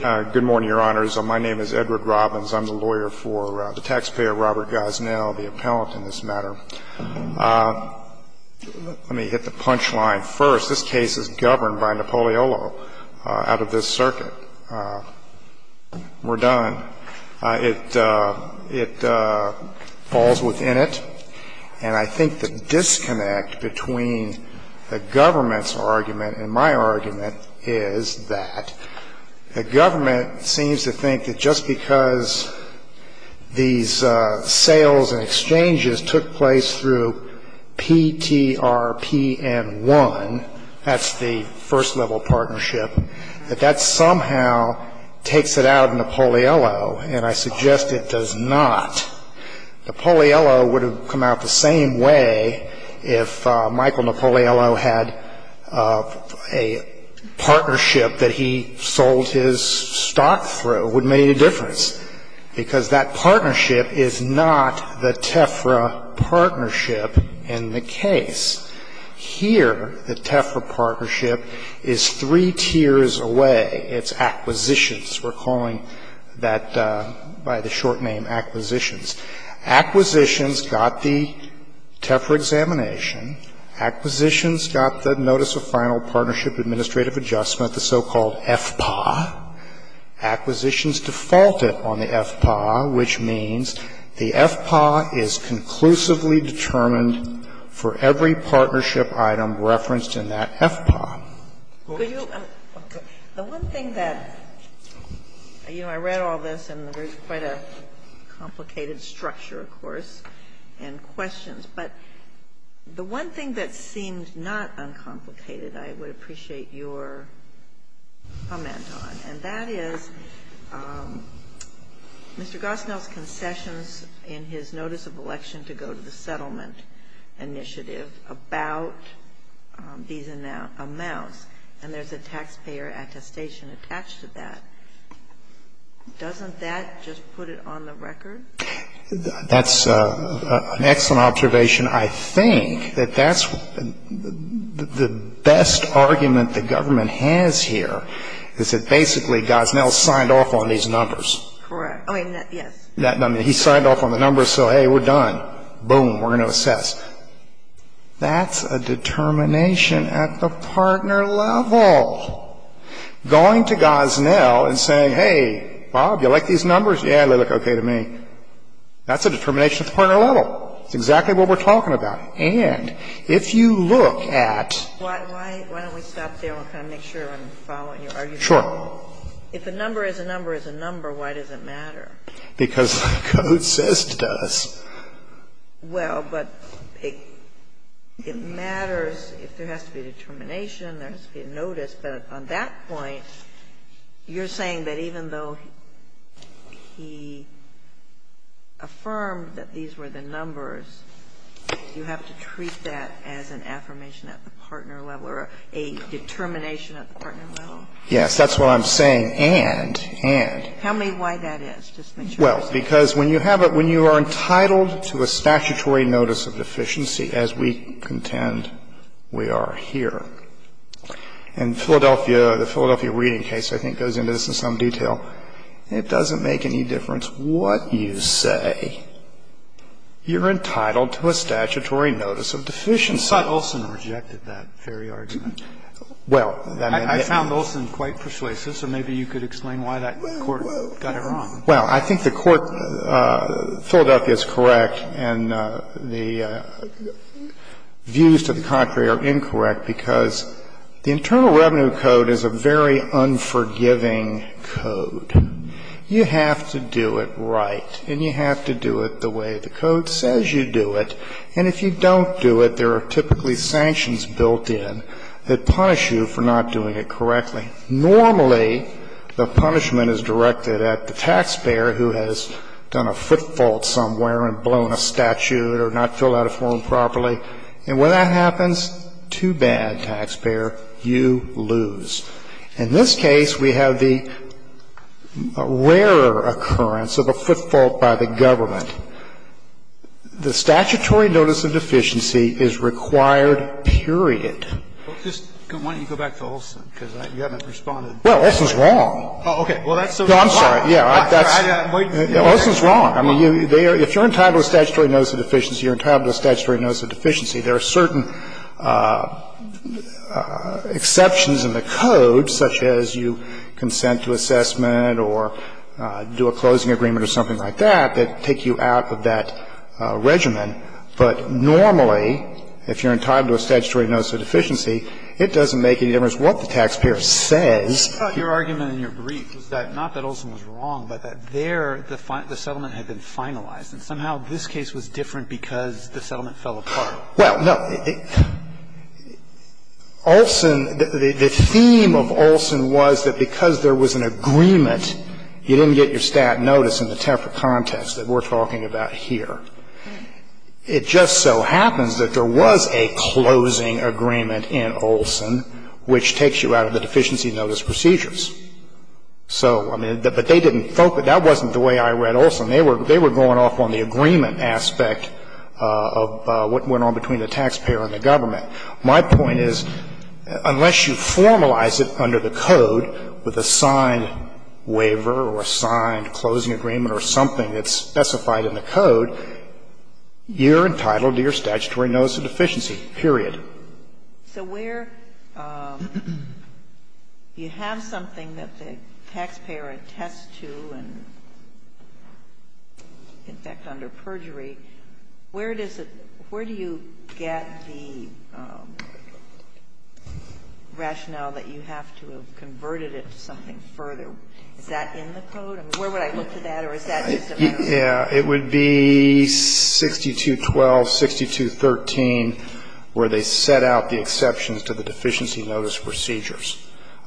Good morning, Your Honors. My name is Edward Robbins. I'm the lawyer for the taxpayer Robert Gosnell, the appellant in this matter. Let me hit the punchline first. This case is governed by Napoleolo out of this circuit. We're done. It falls within it. And I think the disconnect between the government's argument and my argument is that the government seems to think that just because these sales and exchanges took place through PTRPN-1, that's the first-level partnership, that that somehow takes it out of Napoleolo, and I suggest it does not. Napoleolo would have come out the same way if Michael Napoleolo had a partnership that he sold his stock through. It would have made a difference, because that partnership is not the TEFRA partnership in the case. Here, the TEFRA partnership is three tiers away. It's acquisitions. We're calling that by the short name acquisitions. Acquisitions got the TEFRA examination. Acquisitions got the notice of final partnership administrative adjustment, the so-called FPAA. Acquisitions defaulted on the FPAA, which means the FPAA is conclusively determined for every partnership item referenced in that FPAA. The one thing that you know, I read all this, and there's quite a complicated structure, of course, and questions, but the one thing that seemed not uncomplicated I would appreciate your comment on, and that is Mr. Gosnell's concessions in his notice of election to go to the settlement initiative about these amounts, and there's a taxpayer attestation attached to that. Doesn't that just put it on the record? That's an excellent observation. I think that that's the best argument the government has here, is that basically Gosnell signed off on these numbers. Correct. Yes. I mean, he signed off on the numbers, so, hey, we're done. Boom, we're going to assess. That's a determination at the partner level. Going to Gosnell and saying, hey, Bob, you like these numbers? Yeah, they look okay to me. That's a determination at the partner level. It's exactly what we're talking about. And if you look at ---- Why don't we stop there and kind of make sure I'm following your argument? Sure. If a number is a number is a number, why does it matter? Because the code says it does. Well, but it matters if there has to be a determination, there has to be a notice. But on that point, you're saying that even though he affirmed that these were the numbers, you have to treat that as an affirmation at the partner level or a determination at the partner level? And, and. Tell me why that is. Just make sure I understand. Well, because when you have a ---- when you are entitled to a statutory notice of deficiency, as we contend we are here, and Philadelphia, the Philadelphia reading case, I think, goes into this in some detail, it doesn't make any difference what you say. You're entitled to a statutory notice of deficiency. I thought Olson rejected that very argument. Well, that may be. I found Olson quite persuasive, so maybe you could explain why that court got it wrong. Well, I think the court, Philadelphia is correct, and the views to the contrary are incorrect because the Internal Revenue Code is a very unforgiving code. You have to do it right and you have to do it the way the code says you do it. And if you don't do it, there are typically sanctions built in that punish you for not doing it correctly. Normally, the punishment is directed at the taxpayer who has done a foot fault somewhere and blown a statute or not filled out a form properly. And when that happens, too bad, taxpayer, you lose. In this case, we have the rarer occurrence of a foot fault by the government. The statutory notice of deficiency is required, period. Why don't you go back to Olson, because you haven't responded. Well, Olson's wrong. Oh, okay. Well, that's sort of why. No, I'm sorry. I'm waiting. Olson's wrong. I mean, if you're entitled to a statutory notice of deficiency, you're entitled to a statutory notice of deficiency. There are certain exceptions in the code, such as you consent to assessment or do a closing agreement or something like that, that take you out of that regimen. But normally, if you're entitled to a statutory notice of deficiency, it doesn't make any difference what the taxpayer says. Your argument in your brief was that, not that Olson was wrong, but that there, the settlement had been finalized. And somehow this case was different because the settlement fell apart. Well, no. Olson, the theme of Olson was that because there was an agreement, you didn't get your stat notice in the TEFRA context that we're talking about here. It just so happens that there was a closing agreement in Olson which takes you out of the deficiency notice procedures. So, I mean, but they didn't focus. That wasn't the way I read Olson. They were going off on the agreement aspect of what went on between the taxpayer and the government. My point is, unless you formalize it under the code with a signed waiver or a signed closing agreement or something that's specified in the code, you're entitled to your statutory notice of deficiency, period. So where you have something that the taxpayer attests to and, in fact, under perjury, where does it – where do you get the rationale that you have to have converted it to something further? Is that in the code? I mean, where would I look for that? Or is that just a fact? Yeah. It would be 6212, 6213, where they set out the exceptions to the deficiency notice procedures.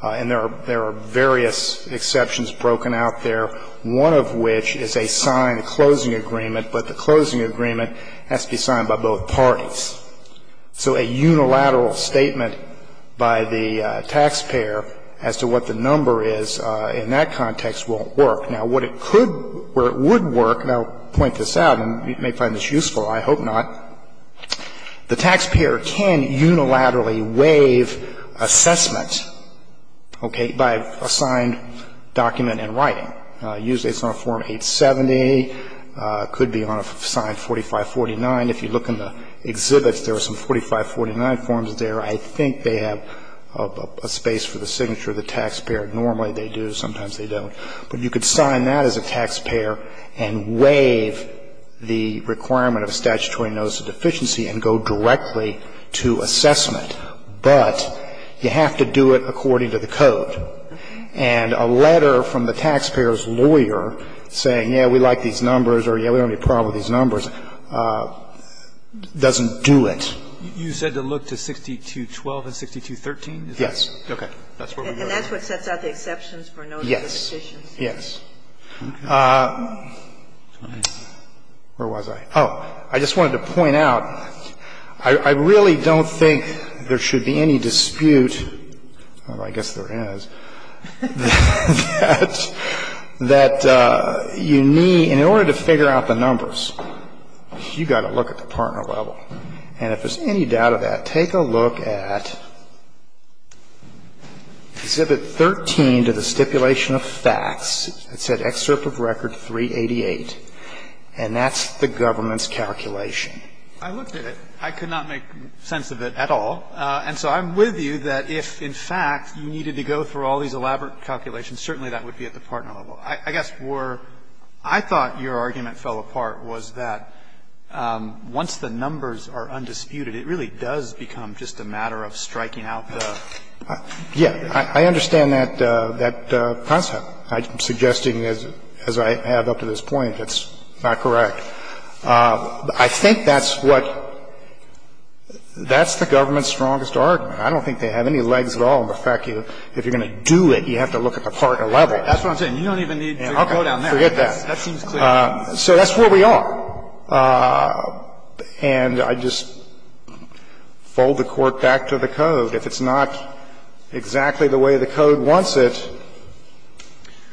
And there are various exceptions broken out there, one of which is a signed closing agreement, but the closing agreement has to be signed by both parties. So a unilateral statement by the taxpayer as to what the number is in that context won't work. Now, what it could – where it would work, and I'll point this out, and you may find this useful, I hope not, the taxpayer can unilaterally waive assessment, okay, by a signed document in writing. Usually it's on a Form 870. It could be on a signed 4549. If you look in the exhibits, there are some 4549 forms there. I think they have a space for the signature of the taxpayer. Normally they do. Sometimes they don't. But you could sign that as a taxpayer and waive the requirement of a statutory notice of deficiency and go directly to assessment. But you have to do it according to the code. And a letter from the taxpayer's lawyer saying, yeah, we like these numbers or, yeah, we don't have any problem with these numbers, doesn't do it. You said to look to 6212 and 6213? Yes. Okay. And that's what sets out the exceptions for notice of deficiency? Yes. Yes. Where was I? Oh, I just wanted to point out, I really don't think there should be any dispute that you need in order to figure out the numbers. You've got to look at the partner level. And if there's any doubt of that, take a look at Exhibit 13 to the Stipulation of Facts. It said Excerpt of Record 388. And that's the government's calculation. I looked at it. I could not make sense of it at all. And so I'm with you that if, in fact, you needed to go through all these elaborate calculations, certainly that would be at the partner level. I guess where I thought your argument fell apart was that once the numbers are undisputed, it really does become just a matter of striking out the... Yes. I understand that concept. I'm suggesting, as I have up to this point, it's not correct. I think that's what the government's strongest argument. I don't think they have any legs at all in the fact that if you're going to do it, you have to look at the partner level. That's what I'm saying. You don't even need to go down there. Forget that. That seems clear. So that's where we are. And I just fold the Court back to the Code. If it's not exactly the way the Code wants it,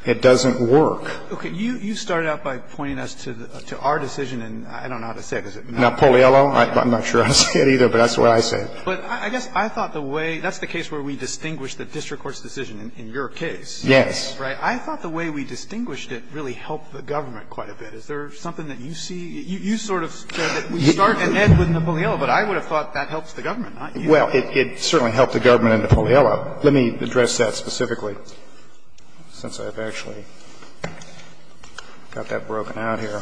it doesn't work. Okay. You started out by pointing us to our decision, and I don't know how to say it. Is it not? Napoliello? I'm not sure how to say it either, but that's what I said. But I guess I thought the way that's the case where we distinguish the district court's decision in your case. Yes. Right? I thought the way we distinguished it really helped the government quite a bit. Is there something that you see? You sort of said that we start and end with Napoliello, but I would have thought that helps the government, not you. Well, it certainly helped the government and Napoliello. Well, let me address that specifically since I've actually got that broken out here.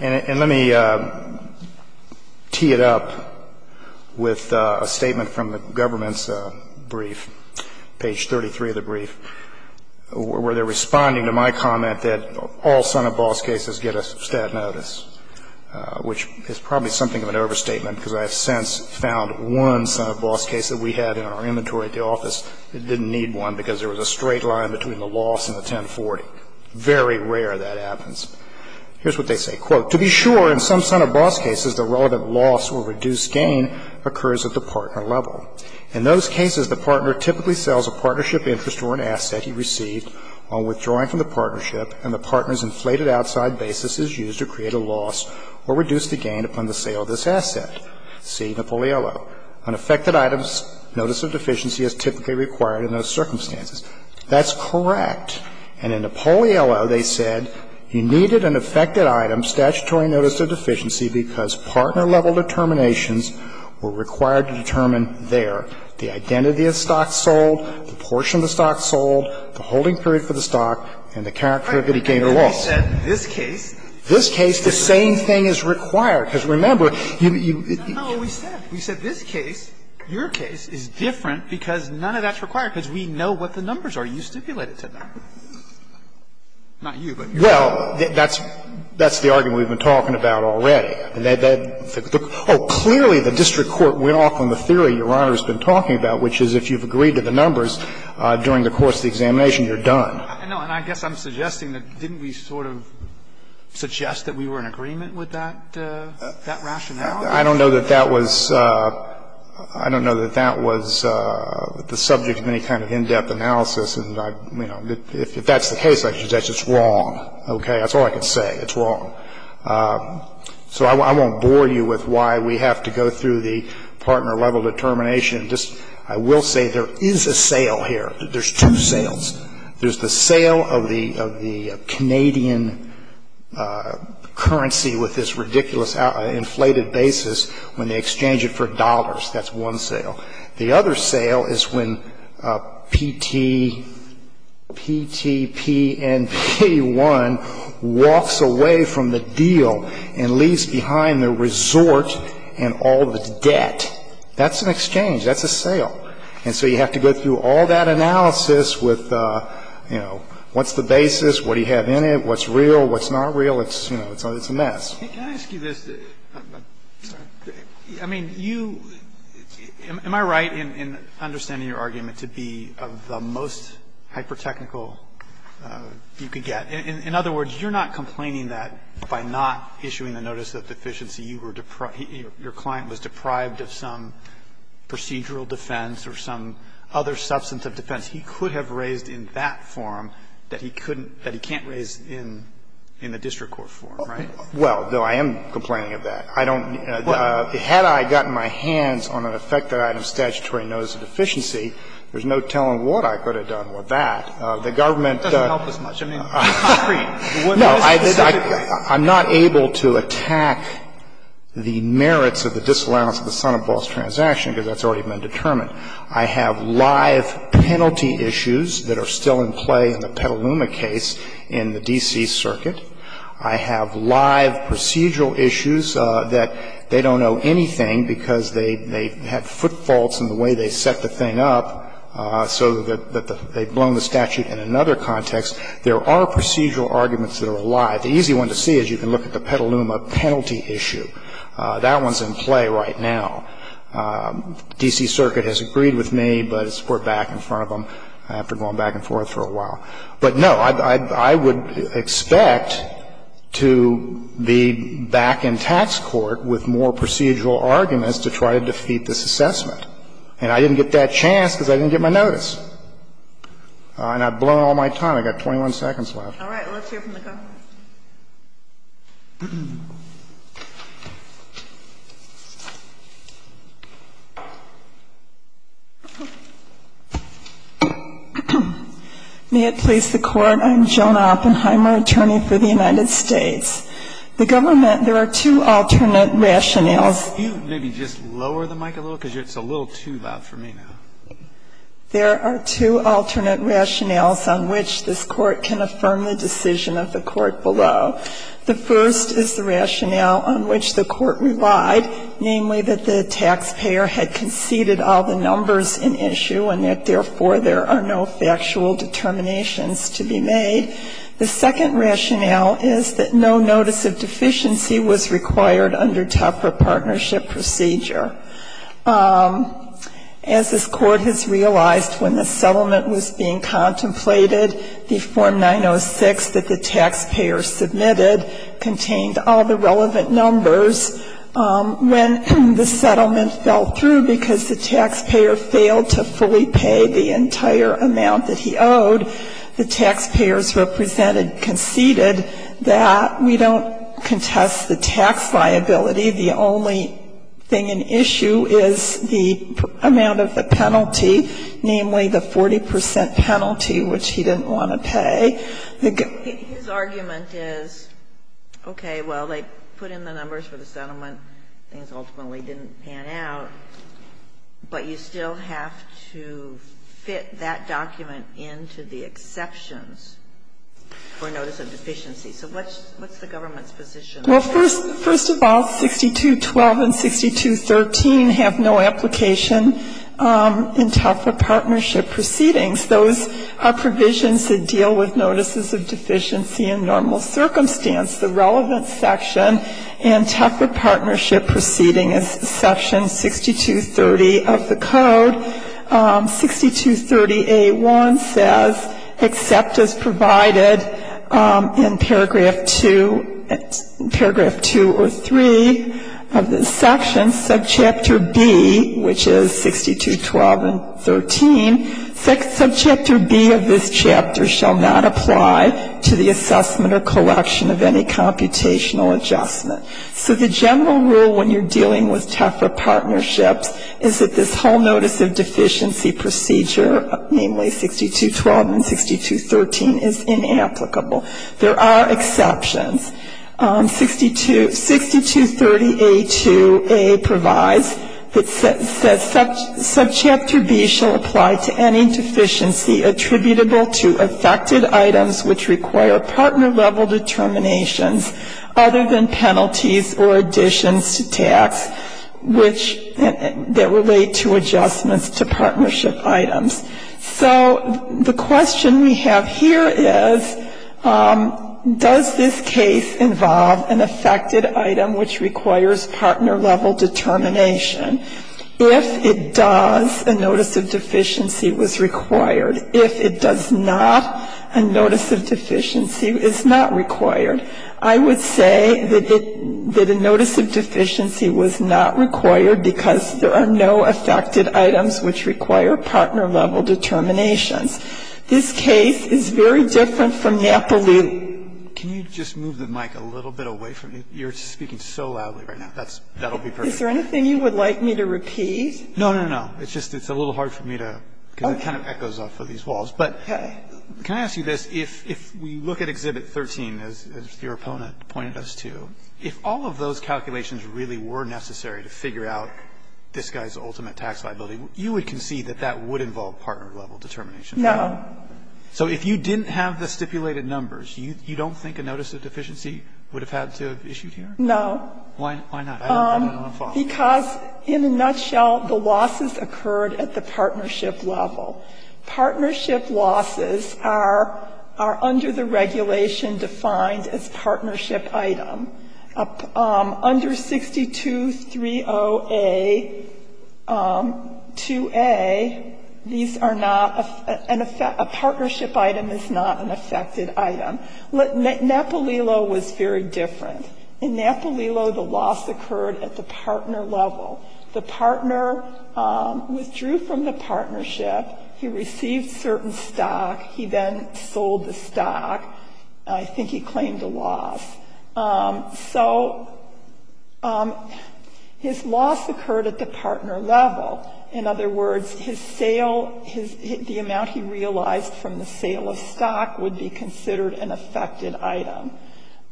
And let me tee it up with a statement from the government's brief, page 33 of the brief, where they're responding to my comment that all Senate boss cases get a stat notice, which is probably something of an overstatement because I have since found one Senate boss case that we had in our inventory at the office that didn't need one because there was a straight line between the loss and the 1040. Very rare that happens. Here's what they say. Quote, To be sure, in some Senate boss cases, the relevant loss or reduced gain occurs at the partner level. In those cases, the partner typically sells a partnership interest or an asset he received on withdrawing from the partnership and the partner's inflated outside basis is used to create a loss or reduce the gain upon the sale of this asset. See Napoliello. On affected items, notice of deficiency is typically required in those circumstances. That's correct. And in Napoliello, they said you needed an affected item, statutory notice of deficiency, because partner level determinations were required to determine their, the identity of the stock sold, the portion of the stock sold, the holding period for the stock and the current period of gain or loss. In this case. In this case, the same thing is required. Because remember, you. No, we said. We said this case, your case, is different because none of that's required because we know what the numbers are. You stipulated to them. Not you, but your Honor. Well, that's the argument we've been talking about already. Oh, clearly the district court went off on the theory your Honor's been talking about, which is if you've agreed to the numbers during the course of the examination, you're done. No, and I guess I'm suggesting that didn't we sort of suggest that we were in agreement with that, that rationale? I don't know that that was, I don't know that that was the subject of any kind of in-depth analysis, and, you know, if that's the case, that's just wrong. Okay? That's all I can say. It's wrong. So I won't bore you with why we have to go through the partner level determination. I will say there is a sale here. There's two sales. There's the sale of the Canadian currency with this ridiculous inflated basis when they exchange it for dollars. That's one sale. The other sale is when PTPNP-1 walks away from the deal and leaves behind the resort and all the debt. That's an exchange. That's a sale. And so you have to go through all that analysis with, you know, what's the basis, what do you have in it, what's real, what's not real. It's, you know, it's a mess. Roberts, can I ask you this? I'm sorry. I mean, you – am I right in understanding your argument to be of the most hypertechnical you could get? In other words, you're not complaining that by not issuing the notice of deficiency you were – your client was deprived of some procedural defense or some other substantive defense he could have raised in that form that he couldn't – that he can't raise in the district court form, right? Well, no, I am complaining of that. I don't – had I gotten my hands on an effective item of statutory notice of deficiency, there's no telling what I could have done with that. The government – It doesn't help us much. I mean, it's concrete. No. I'm not able to attack the merits of the disallowance of the son of boss transaction because that's already been determined. I have live penalty issues that are still in play in the Petaluma case in the D.C. circuit. I have live procedural issues that they don't know anything because they – they had foot faults in the way they set the thing up so that they've blown the statute in another context. There are procedural arguments that are alive. The easy one to see is you can look at the Petaluma penalty issue. That one's in play right now. D.C. circuit has agreed with me, but it's put back in front of them after going back and forth for a while. But, no, I would expect to be back in tax court with more procedural arguments to try to defeat this assessment. And I didn't get that chance because I didn't get my notice. And I've blown all my time. I've got 21 seconds left. All right. Let's hear from the government. May it please the Court. I'm Joan Oppenheimer, attorney for the United States. The government – there are two alternate rationales. Can you maybe just lower the mic a little because it's a little too loud for me now. There are two alternate rationales on which this Court can affirm the decision of the Court below. The first is the rationale on which the Court relied, namely that the taxpayer had conceded all the numbers in issue and that, therefore, there are no factual determinations to be made. The second rationale is that no notice of deficiency was required under TEPRA partnership procedure. As this Court has realized when the settlement was being contemplated, the Form 906 that the taxpayer submitted contained all the relevant numbers. When the settlement fell through because the taxpayer failed to fully pay the entire amount that he owed, the taxpayers represented conceded that we don't contest the tax liability. The only thing in issue is the amount of the penalty, namely the 40 percent penalty, which he didn't want to pay. Ginsburg. His argument is, okay, well, they put in the numbers for the settlement. Things ultimately didn't pan out. But you still have to fit that document into the exceptions for notice of deficiency. So what's the government's position? First of all, 6212 and 6213 have no application in TEPRA partnership proceedings. Those are provisions that deal with notices of deficiency in normal circumstance. The relevant section in TEPRA partnership proceeding is section 6230 of the code. 6230A1 says, except as provided in paragraph 2 or 3 of the section, subchapter B, which this chapter shall not apply to the assessment or collection of any computational adjustment. So the general rule when you're dealing with TEPRA partnerships is that this whole notice of deficiency procedure, namely 6212 and 6213, is inapplicable. There are exceptions. 6230A2A provides that subchapter B shall apply to any deficiency attributable to affected items which require partner-level determinations other than penalties or additions to tax, which that relate to adjustments to partnership items. So the question we have here is, does this case involve an affected item which requires partner-level determination? If it does, a notice of deficiency was required. If it does not, a notice of deficiency is not required. I would say that a notice of deficiency was not required because there are no affected items which require partner-level determinations. This case is very different from Napoli. Can you just move the mic a little bit away from me? You're speaking so loudly right now. That's going to be perfect. Is there anything you would like me to repeat? No, no, no. It's just it's a little hard for me to, because it kind of echoes off of these walls. Okay. Can I ask you this? If we look at Exhibit 13, as your opponent pointed us to, if all of those calculations really were necessary to figure out this guy's ultimate tax liability, you would concede that that would involve partner-level determination? No. So if you didn't have the stipulated numbers, you don't think a notice of deficiency would have had to have issued here? No. Why not? Because in a nutshell, the losses occurred at the partnership level. Partnership losses are under the regulation defined as partnership item. Under 6230A, 2A, these are not, a partnership item is not an affected item. Napolilo was very different. In Napolilo, the loss occurred at the partner level. The partner withdrew from the partnership. He received certain stock. He then sold the stock. I think he claimed a loss. So his loss occurred at the partner level. In other words, his sale, the amount he realized from the sale of stock would be considered an affected item.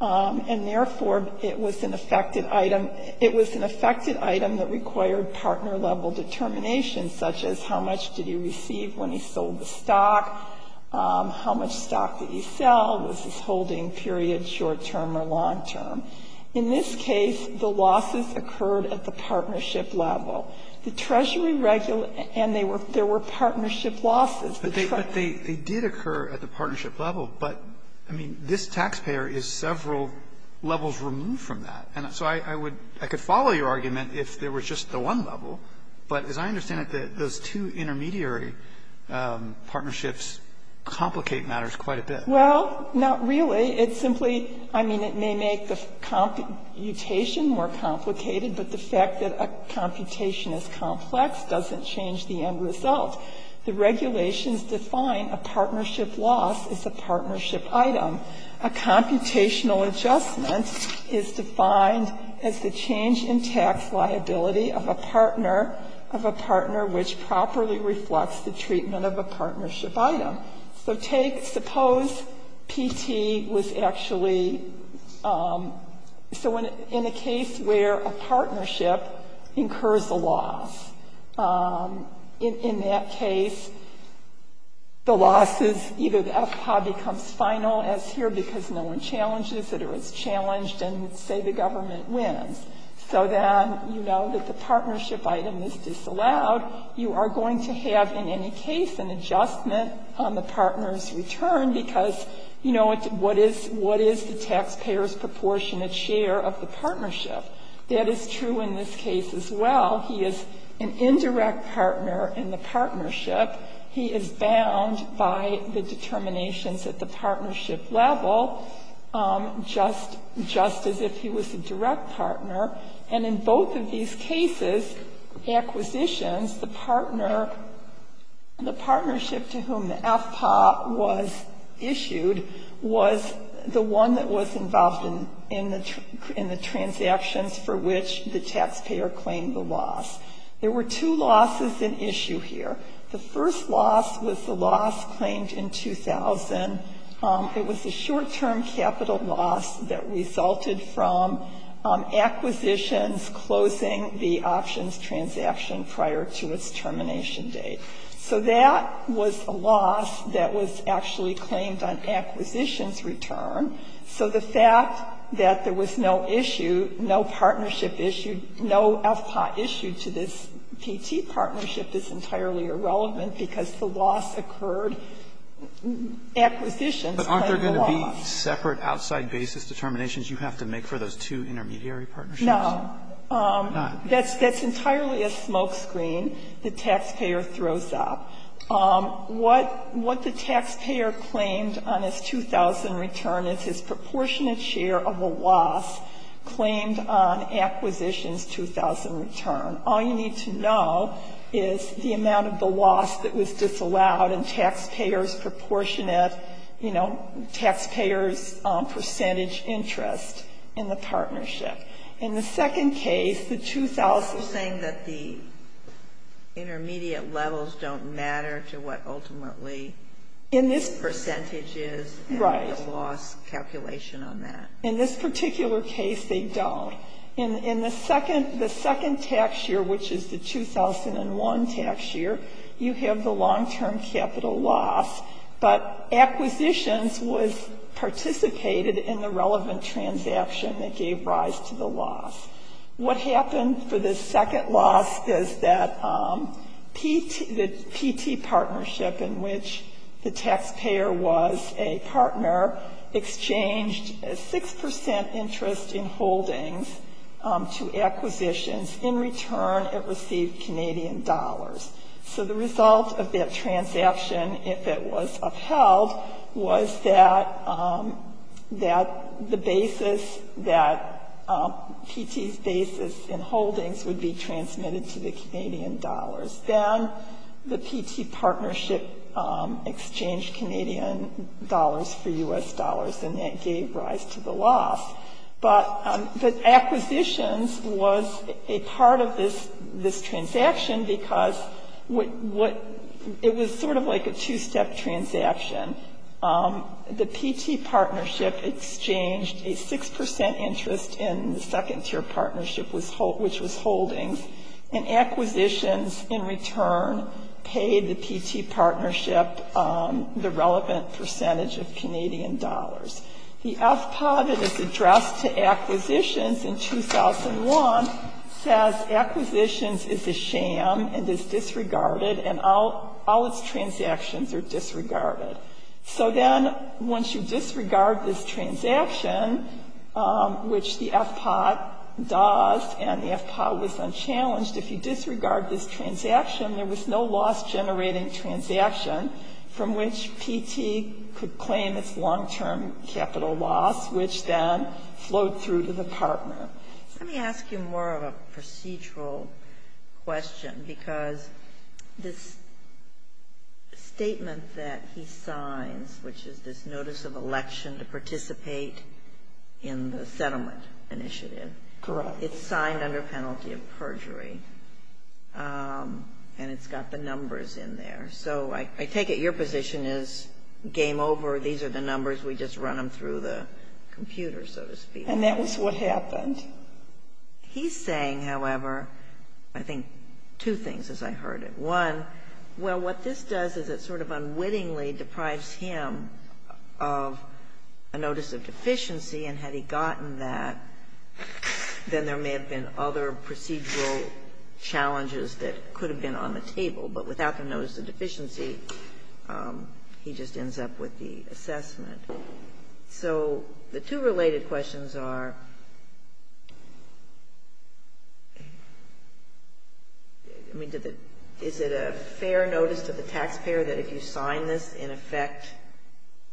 And therefore, it was an affected item. It was an affected item that required partner-level determination, such as how much did he receive when he sold the stock, how much stock did he sell, was his holding period short-term or long-term. In this case, the losses occurred at the partnership level. The Treasury regulates, and there were partnership losses. But they did occur at the partnership level. But, I mean, this taxpayer is several levels removed from that. And so I would, I could follow your argument if there was just the one level. But as I understand it, those two intermediary partnerships complicate matters quite a bit. Well, not really. It simply, I mean, it may make the computation more complicated, but the fact that a computation is complex doesn't change the end result. The regulations define a partnership loss as a partnership item. A computational adjustment is defined as the change in tax liability of a partner, of a partner which properly reflects the treatment of a partnership item. So take, suppose PT was actually, so in a case where a partnership incurs a loss, in that case, the losses, either the FPA becomes final as here because no one challenges it or it's challenged and say the government wins. So then you know that the partnership item is disallowed. You are going to have, in any case, an adjustment on the partner's return because, you know, what is the taxpayer's proportionate share of the partnership? That is true in this case as well. He is an indirect partner in the partnership. He is bound by the determinations at the partnership level, just as if he was a direct partner. And in both of these cases, acquisitions, the partner, the partnership to whom the FPA was issued was the one that was involved in the transactions for which the taxpayer claimed the loss. There were two losses in issue here. The first loss was the loss claimed in 2000. It was a short-term capital loss that resulted from acquisitions closing the options transaction prior to its termination date. So that was a loss that was actually claimed on acquisitions return. So the fact that there was no issue, no partnership issue, no FPA issue to this P-T partnership is entirely irrelevant because the loss occurred. Acquisitions claimed the loss. Roberts. But aren't there going to be separate outside basis determinations you have to make for those two intermediary partnerships? No. That's entirely a smokescreen the taxpayer throws up. What the taxpayer claimed on his 2000 return is his proportionate share of the loss claimed on acquisitions 2000 return. All you need to know is the amount of the loss that was disallowed and taxpayer's proportionate, you know, taxpayer's percentage interest in the partnership. In the second case, the 2000. You're saying that the intermediate levels don't matter to what ultimately the percentage is and the loss calculation on that. In this particular case, they don't. In the second tax year, which is the 2001 tax year, you have the long-term capital loss. But acquisitions was participated in the relevant transaction that gave rise to the loss. What happened for the second loss is that P-T, the P-T partnership in which the taxpayer was a partner, exchanged a 6% interest in holdings to acquisitions. In return, it received Canadian dollars. So the result of that transaction, if it was upheld, was that the basis, that P-T's basis in holdings would be transmitted to the Canadian dollars. Then the P-T partnership exchanged Canadian dollars for U.S. dollars, and that gave rise to the loss. But acquisitions was a part of this transaction because it was sort of like a two-step transaction. The P-T partnership exchanged a 6% interest in the second-tier partnership, which was holdings, and acquisitions in return paid the P-T partnership the relevant percentage of Canadian dollars. The FPAW that is addressed to acquisitions in 2001 says acquisitions is a sham and is disregarded, and all its transactions are disregarded. So then once you disregard this transaction, which the FPAW does, and the FPAW was unchallenged, if you disregard this transaction, there was no loss-generating transaction from which P-T could claim its long-term capital loss, which then flowed through to the partner. Let me ask you more of a procedural question because this statement that he signs, which is this notice of election to participate in the settlement initiative. Correct. It's signed under penalty of perjury, and it's got the numbers in there. So I take it your position is game over. These are the numbers. We just run them through the computer, so to speak. And that was what happened. He's saying, however, I think two things, as I heard it. One, well, what this does is it sort of unwittingly deprives him of a notice of deficiency, and had he gotten that, then there may have been other procedural challenges that could have been on the table. But without the notice of deficiency, he just ends up with the assessment. So the two related questions are, I mean, is it a fair notice to the taxpayer that if you sign this, in effect,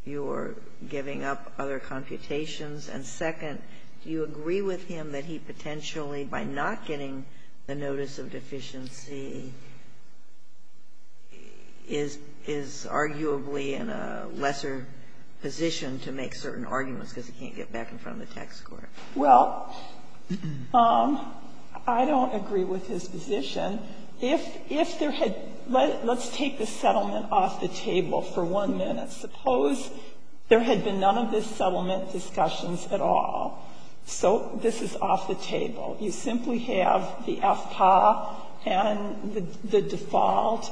you're giving up other computations? And second, do you agree with him that he potentially, by not getting the notice of deficiency, is arguably in a lesser position to make certain arguments because he can't get back in front of the tax court? Well, I don't agree with his position. Let's take the settlement off the table for one minute. Suppose there had been none of this settlement discussions at all. So this is off the table. You simply have the FPAA and the default,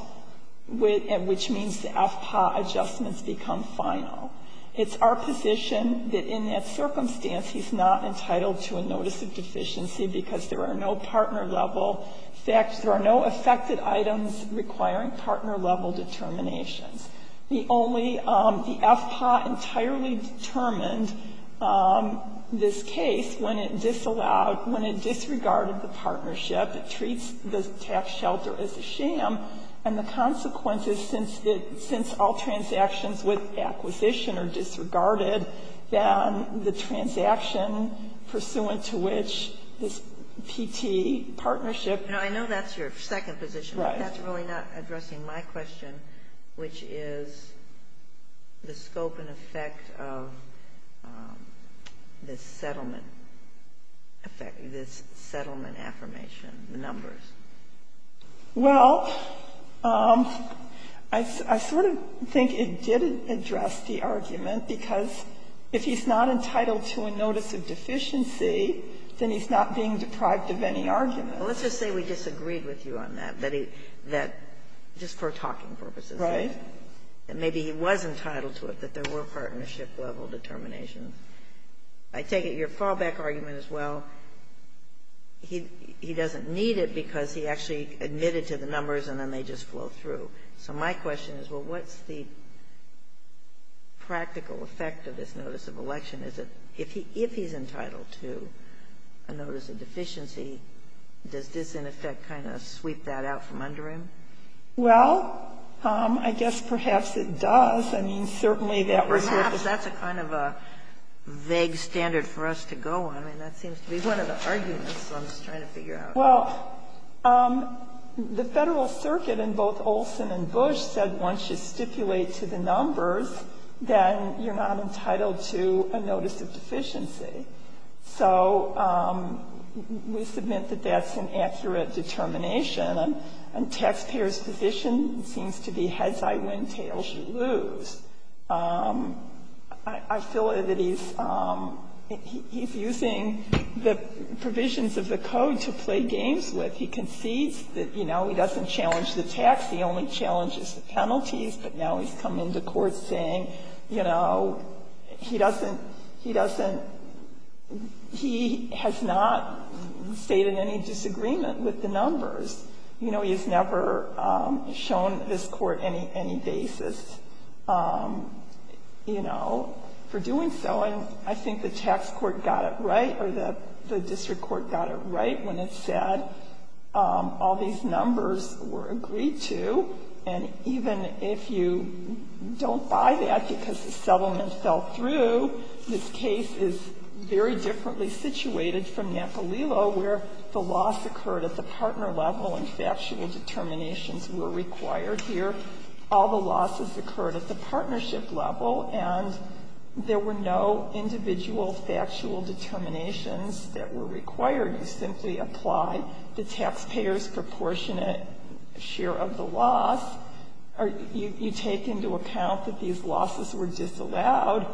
which means the FPAA adjustments become final. It's our position that in that circumstance he's not entitled to a notice of deficiency because there are no partner-level factors. There are no affected items requiring partner-level determinations. The only the FPAA entirely determined this case when it disallowed, when it disregarded the partnership, it treats the tax shelter as a sham, and the consequences since all transactions with acquisition are disregarded, then the transaction pursuant to which this PT partnership. Now, I know that's your second position, but that's really not addressing my question, which is the scope and effect of this settlement, this settlement affirmation, the numbers. Well, I sort of think it did address the argument because if he's not entitled to a notice of deficiency, then he's not being deprived of any argument. Let's just say we disagreed with you on that, Betty, that just for talking purposes. Right. Maybe he was entitled to it, that there were partnership-level determinations. I take it your fallback argument as well, he doesn't need it because he actually admitted to the numbers and then they just flow through. So my question is, well, what's the practical effect of this notice of election? If he's entitled to a notice of deficiency, does this, in effect, kind of sweep that out from under him? Well, I guess perhaps it does. I mean, certainly that would happen. Because that's a kind of a vague standard for us to go on. I mean, that seems to be one of the arguments, so I'm just trying to figure out. Well, the Federal Circuit in both Olson and Bush said once you stipulate to the numbers, then you're not entitled to a notice of deficiency. So we submit that that's an accurate determination. And taxpayers' position seems to be heads I win, tails you lose. I feel that he's using the provisions of the code to play games with. He concedes that, you know, he doesn't challenge the tax. He only challenges the penalties. But now he's come into court saying, you know, he doesn't he doesn't he has not stated any disagreement with the numbers. You know, he has never shown this court any basis, you know, for doing so. And I think the tax court got it right or the district court got it right when it said all these numbers were agreed to, and even if you don't buy that because the settlement fell through, this case is very differently situated from Napolillo, where the loss occurred at the partner level and factual determinations were required here. All the losses occurred at the partnership level, and there were no individual factual determinations that were required. You simply apply the taxpayer's proportionate share of the loss, or you take into account that these losses were disallowed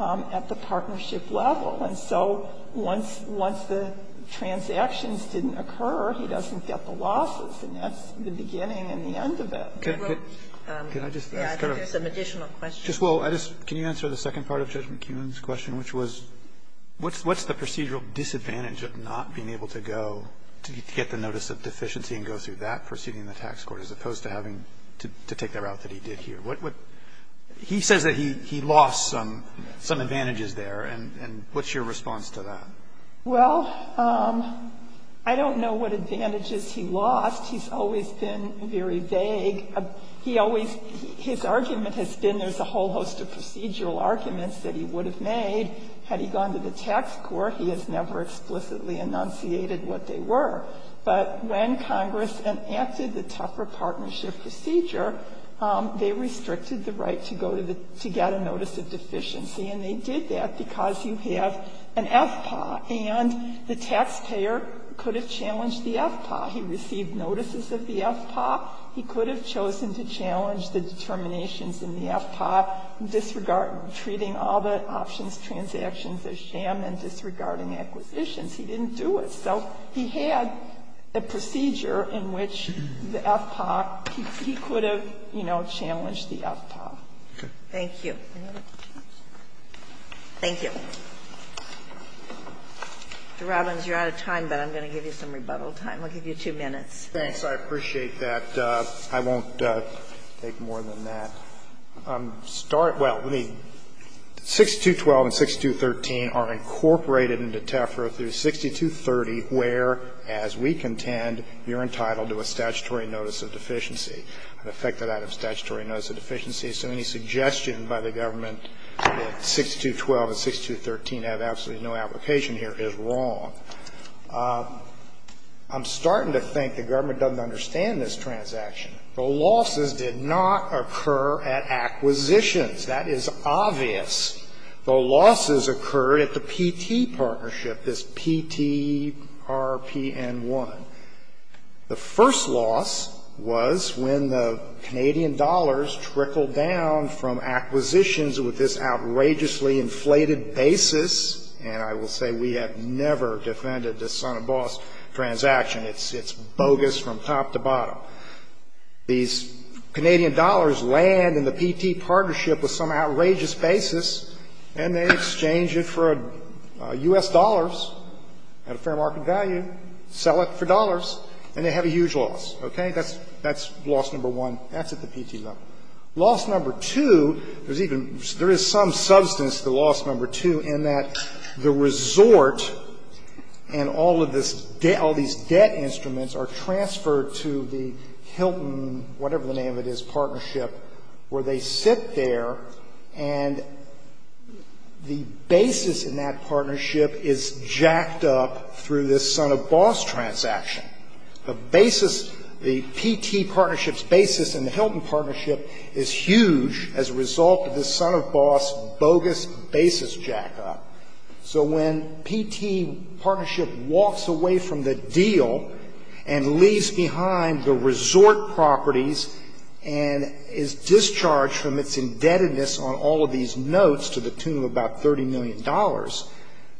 at the partnership level. And so once the transactions didn't occur, he doesn't get the losses. And that's the beginning and the end of it. Roberts, I think there's some additional questions. Roberts, can you answer the second part of Judge McKeon's question, which was what's the procedural disadvantage of not being able to go, to get the notice of deficiency and go through that proceeding in the tax court, as opposed to having to take the route that he did here? He says that he lost some advantages there, and what's your response to that? Well, I don't know what advantages he lost. He's always been very vague. He always his argument has been there's a whole host of procedural arguments that he would have made. Had he gone to the tax court, he has never explicitly enunciated what they were. But when Congress enacted the tougher partnership procedure, they restricted the right to go to the to get a notice of deficiency, and they did that because you have an FPAA. And the taxpayer could have challenged the FPAA. He received notices of the FPAA. He could have chosen to challenge the determinations in the FPAA, disregard treating all the options transactions as sham and disregarding acquisitions. He didn't do it. So he had a procedure in which the FPAA, he could have, you know, challenged the FPAA. Sotomayor, thank you. Thank you. Mr. Robbins, you're out of time, but I'm going to give you some rebuttal time. I'll give you two minutes. Thanks. I appreciate that. I won't take more than that. I'm starting to think the government doesn't understand this transaction. The losses did not occur at acquisitions. That is obvious. The losses occurred at the P.T. partnership, this P.T.R.P.N.1. The first loss was when the Canadian dollars trickled down from acquisitions with this outrageously inflated basis. And I will say we have never defended this son-of-a-boss transaction. It's bogus from top to bottom. These Canadian dollars land in the P.T. partnership with some outrageous basis, and they exchange it for U.S. dollars at a fair market value, sell it for dollars, and they have a huge loss. Okay? That's loss number one. That's at the P.T. level. Loss number two, there's even, there is some substance to loss number two in that the resort and all of this, all these debt instruments are transferred to the Hilton, whatever the name of it is, partnership, where they sit there and the basis in that partnership is jacked up through this son-of-a-boss transaction. The basis, the P.T. partnership's basis in the Hilton partnership is huge as a result of this son-of-a-boss bogus basis jack-up. So when P.T. partnership walks away from the deal and leaves behind the resort properties and is discharged from its indebtedness on all of these notes to the tune of about $30 million,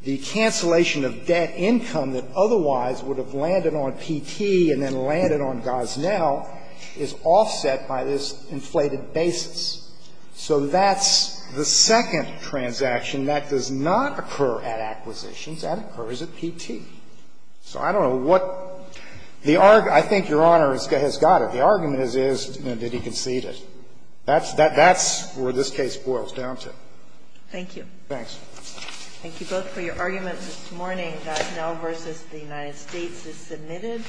the cancellation of debt income that otherwise would have landed on P.T. and then landed on Gosnell is offset by this inflated basis. So that's the second transaction. That does not occur at acquisitions. That occurs at P.T. So I don't know what the argument – I think Your Honor has got it. The argument is, is that he conceded. That's where this case boils down to. Thank you. Thanks. Thank you both for your arguments this morning. Gosnell v. The United States is submitted.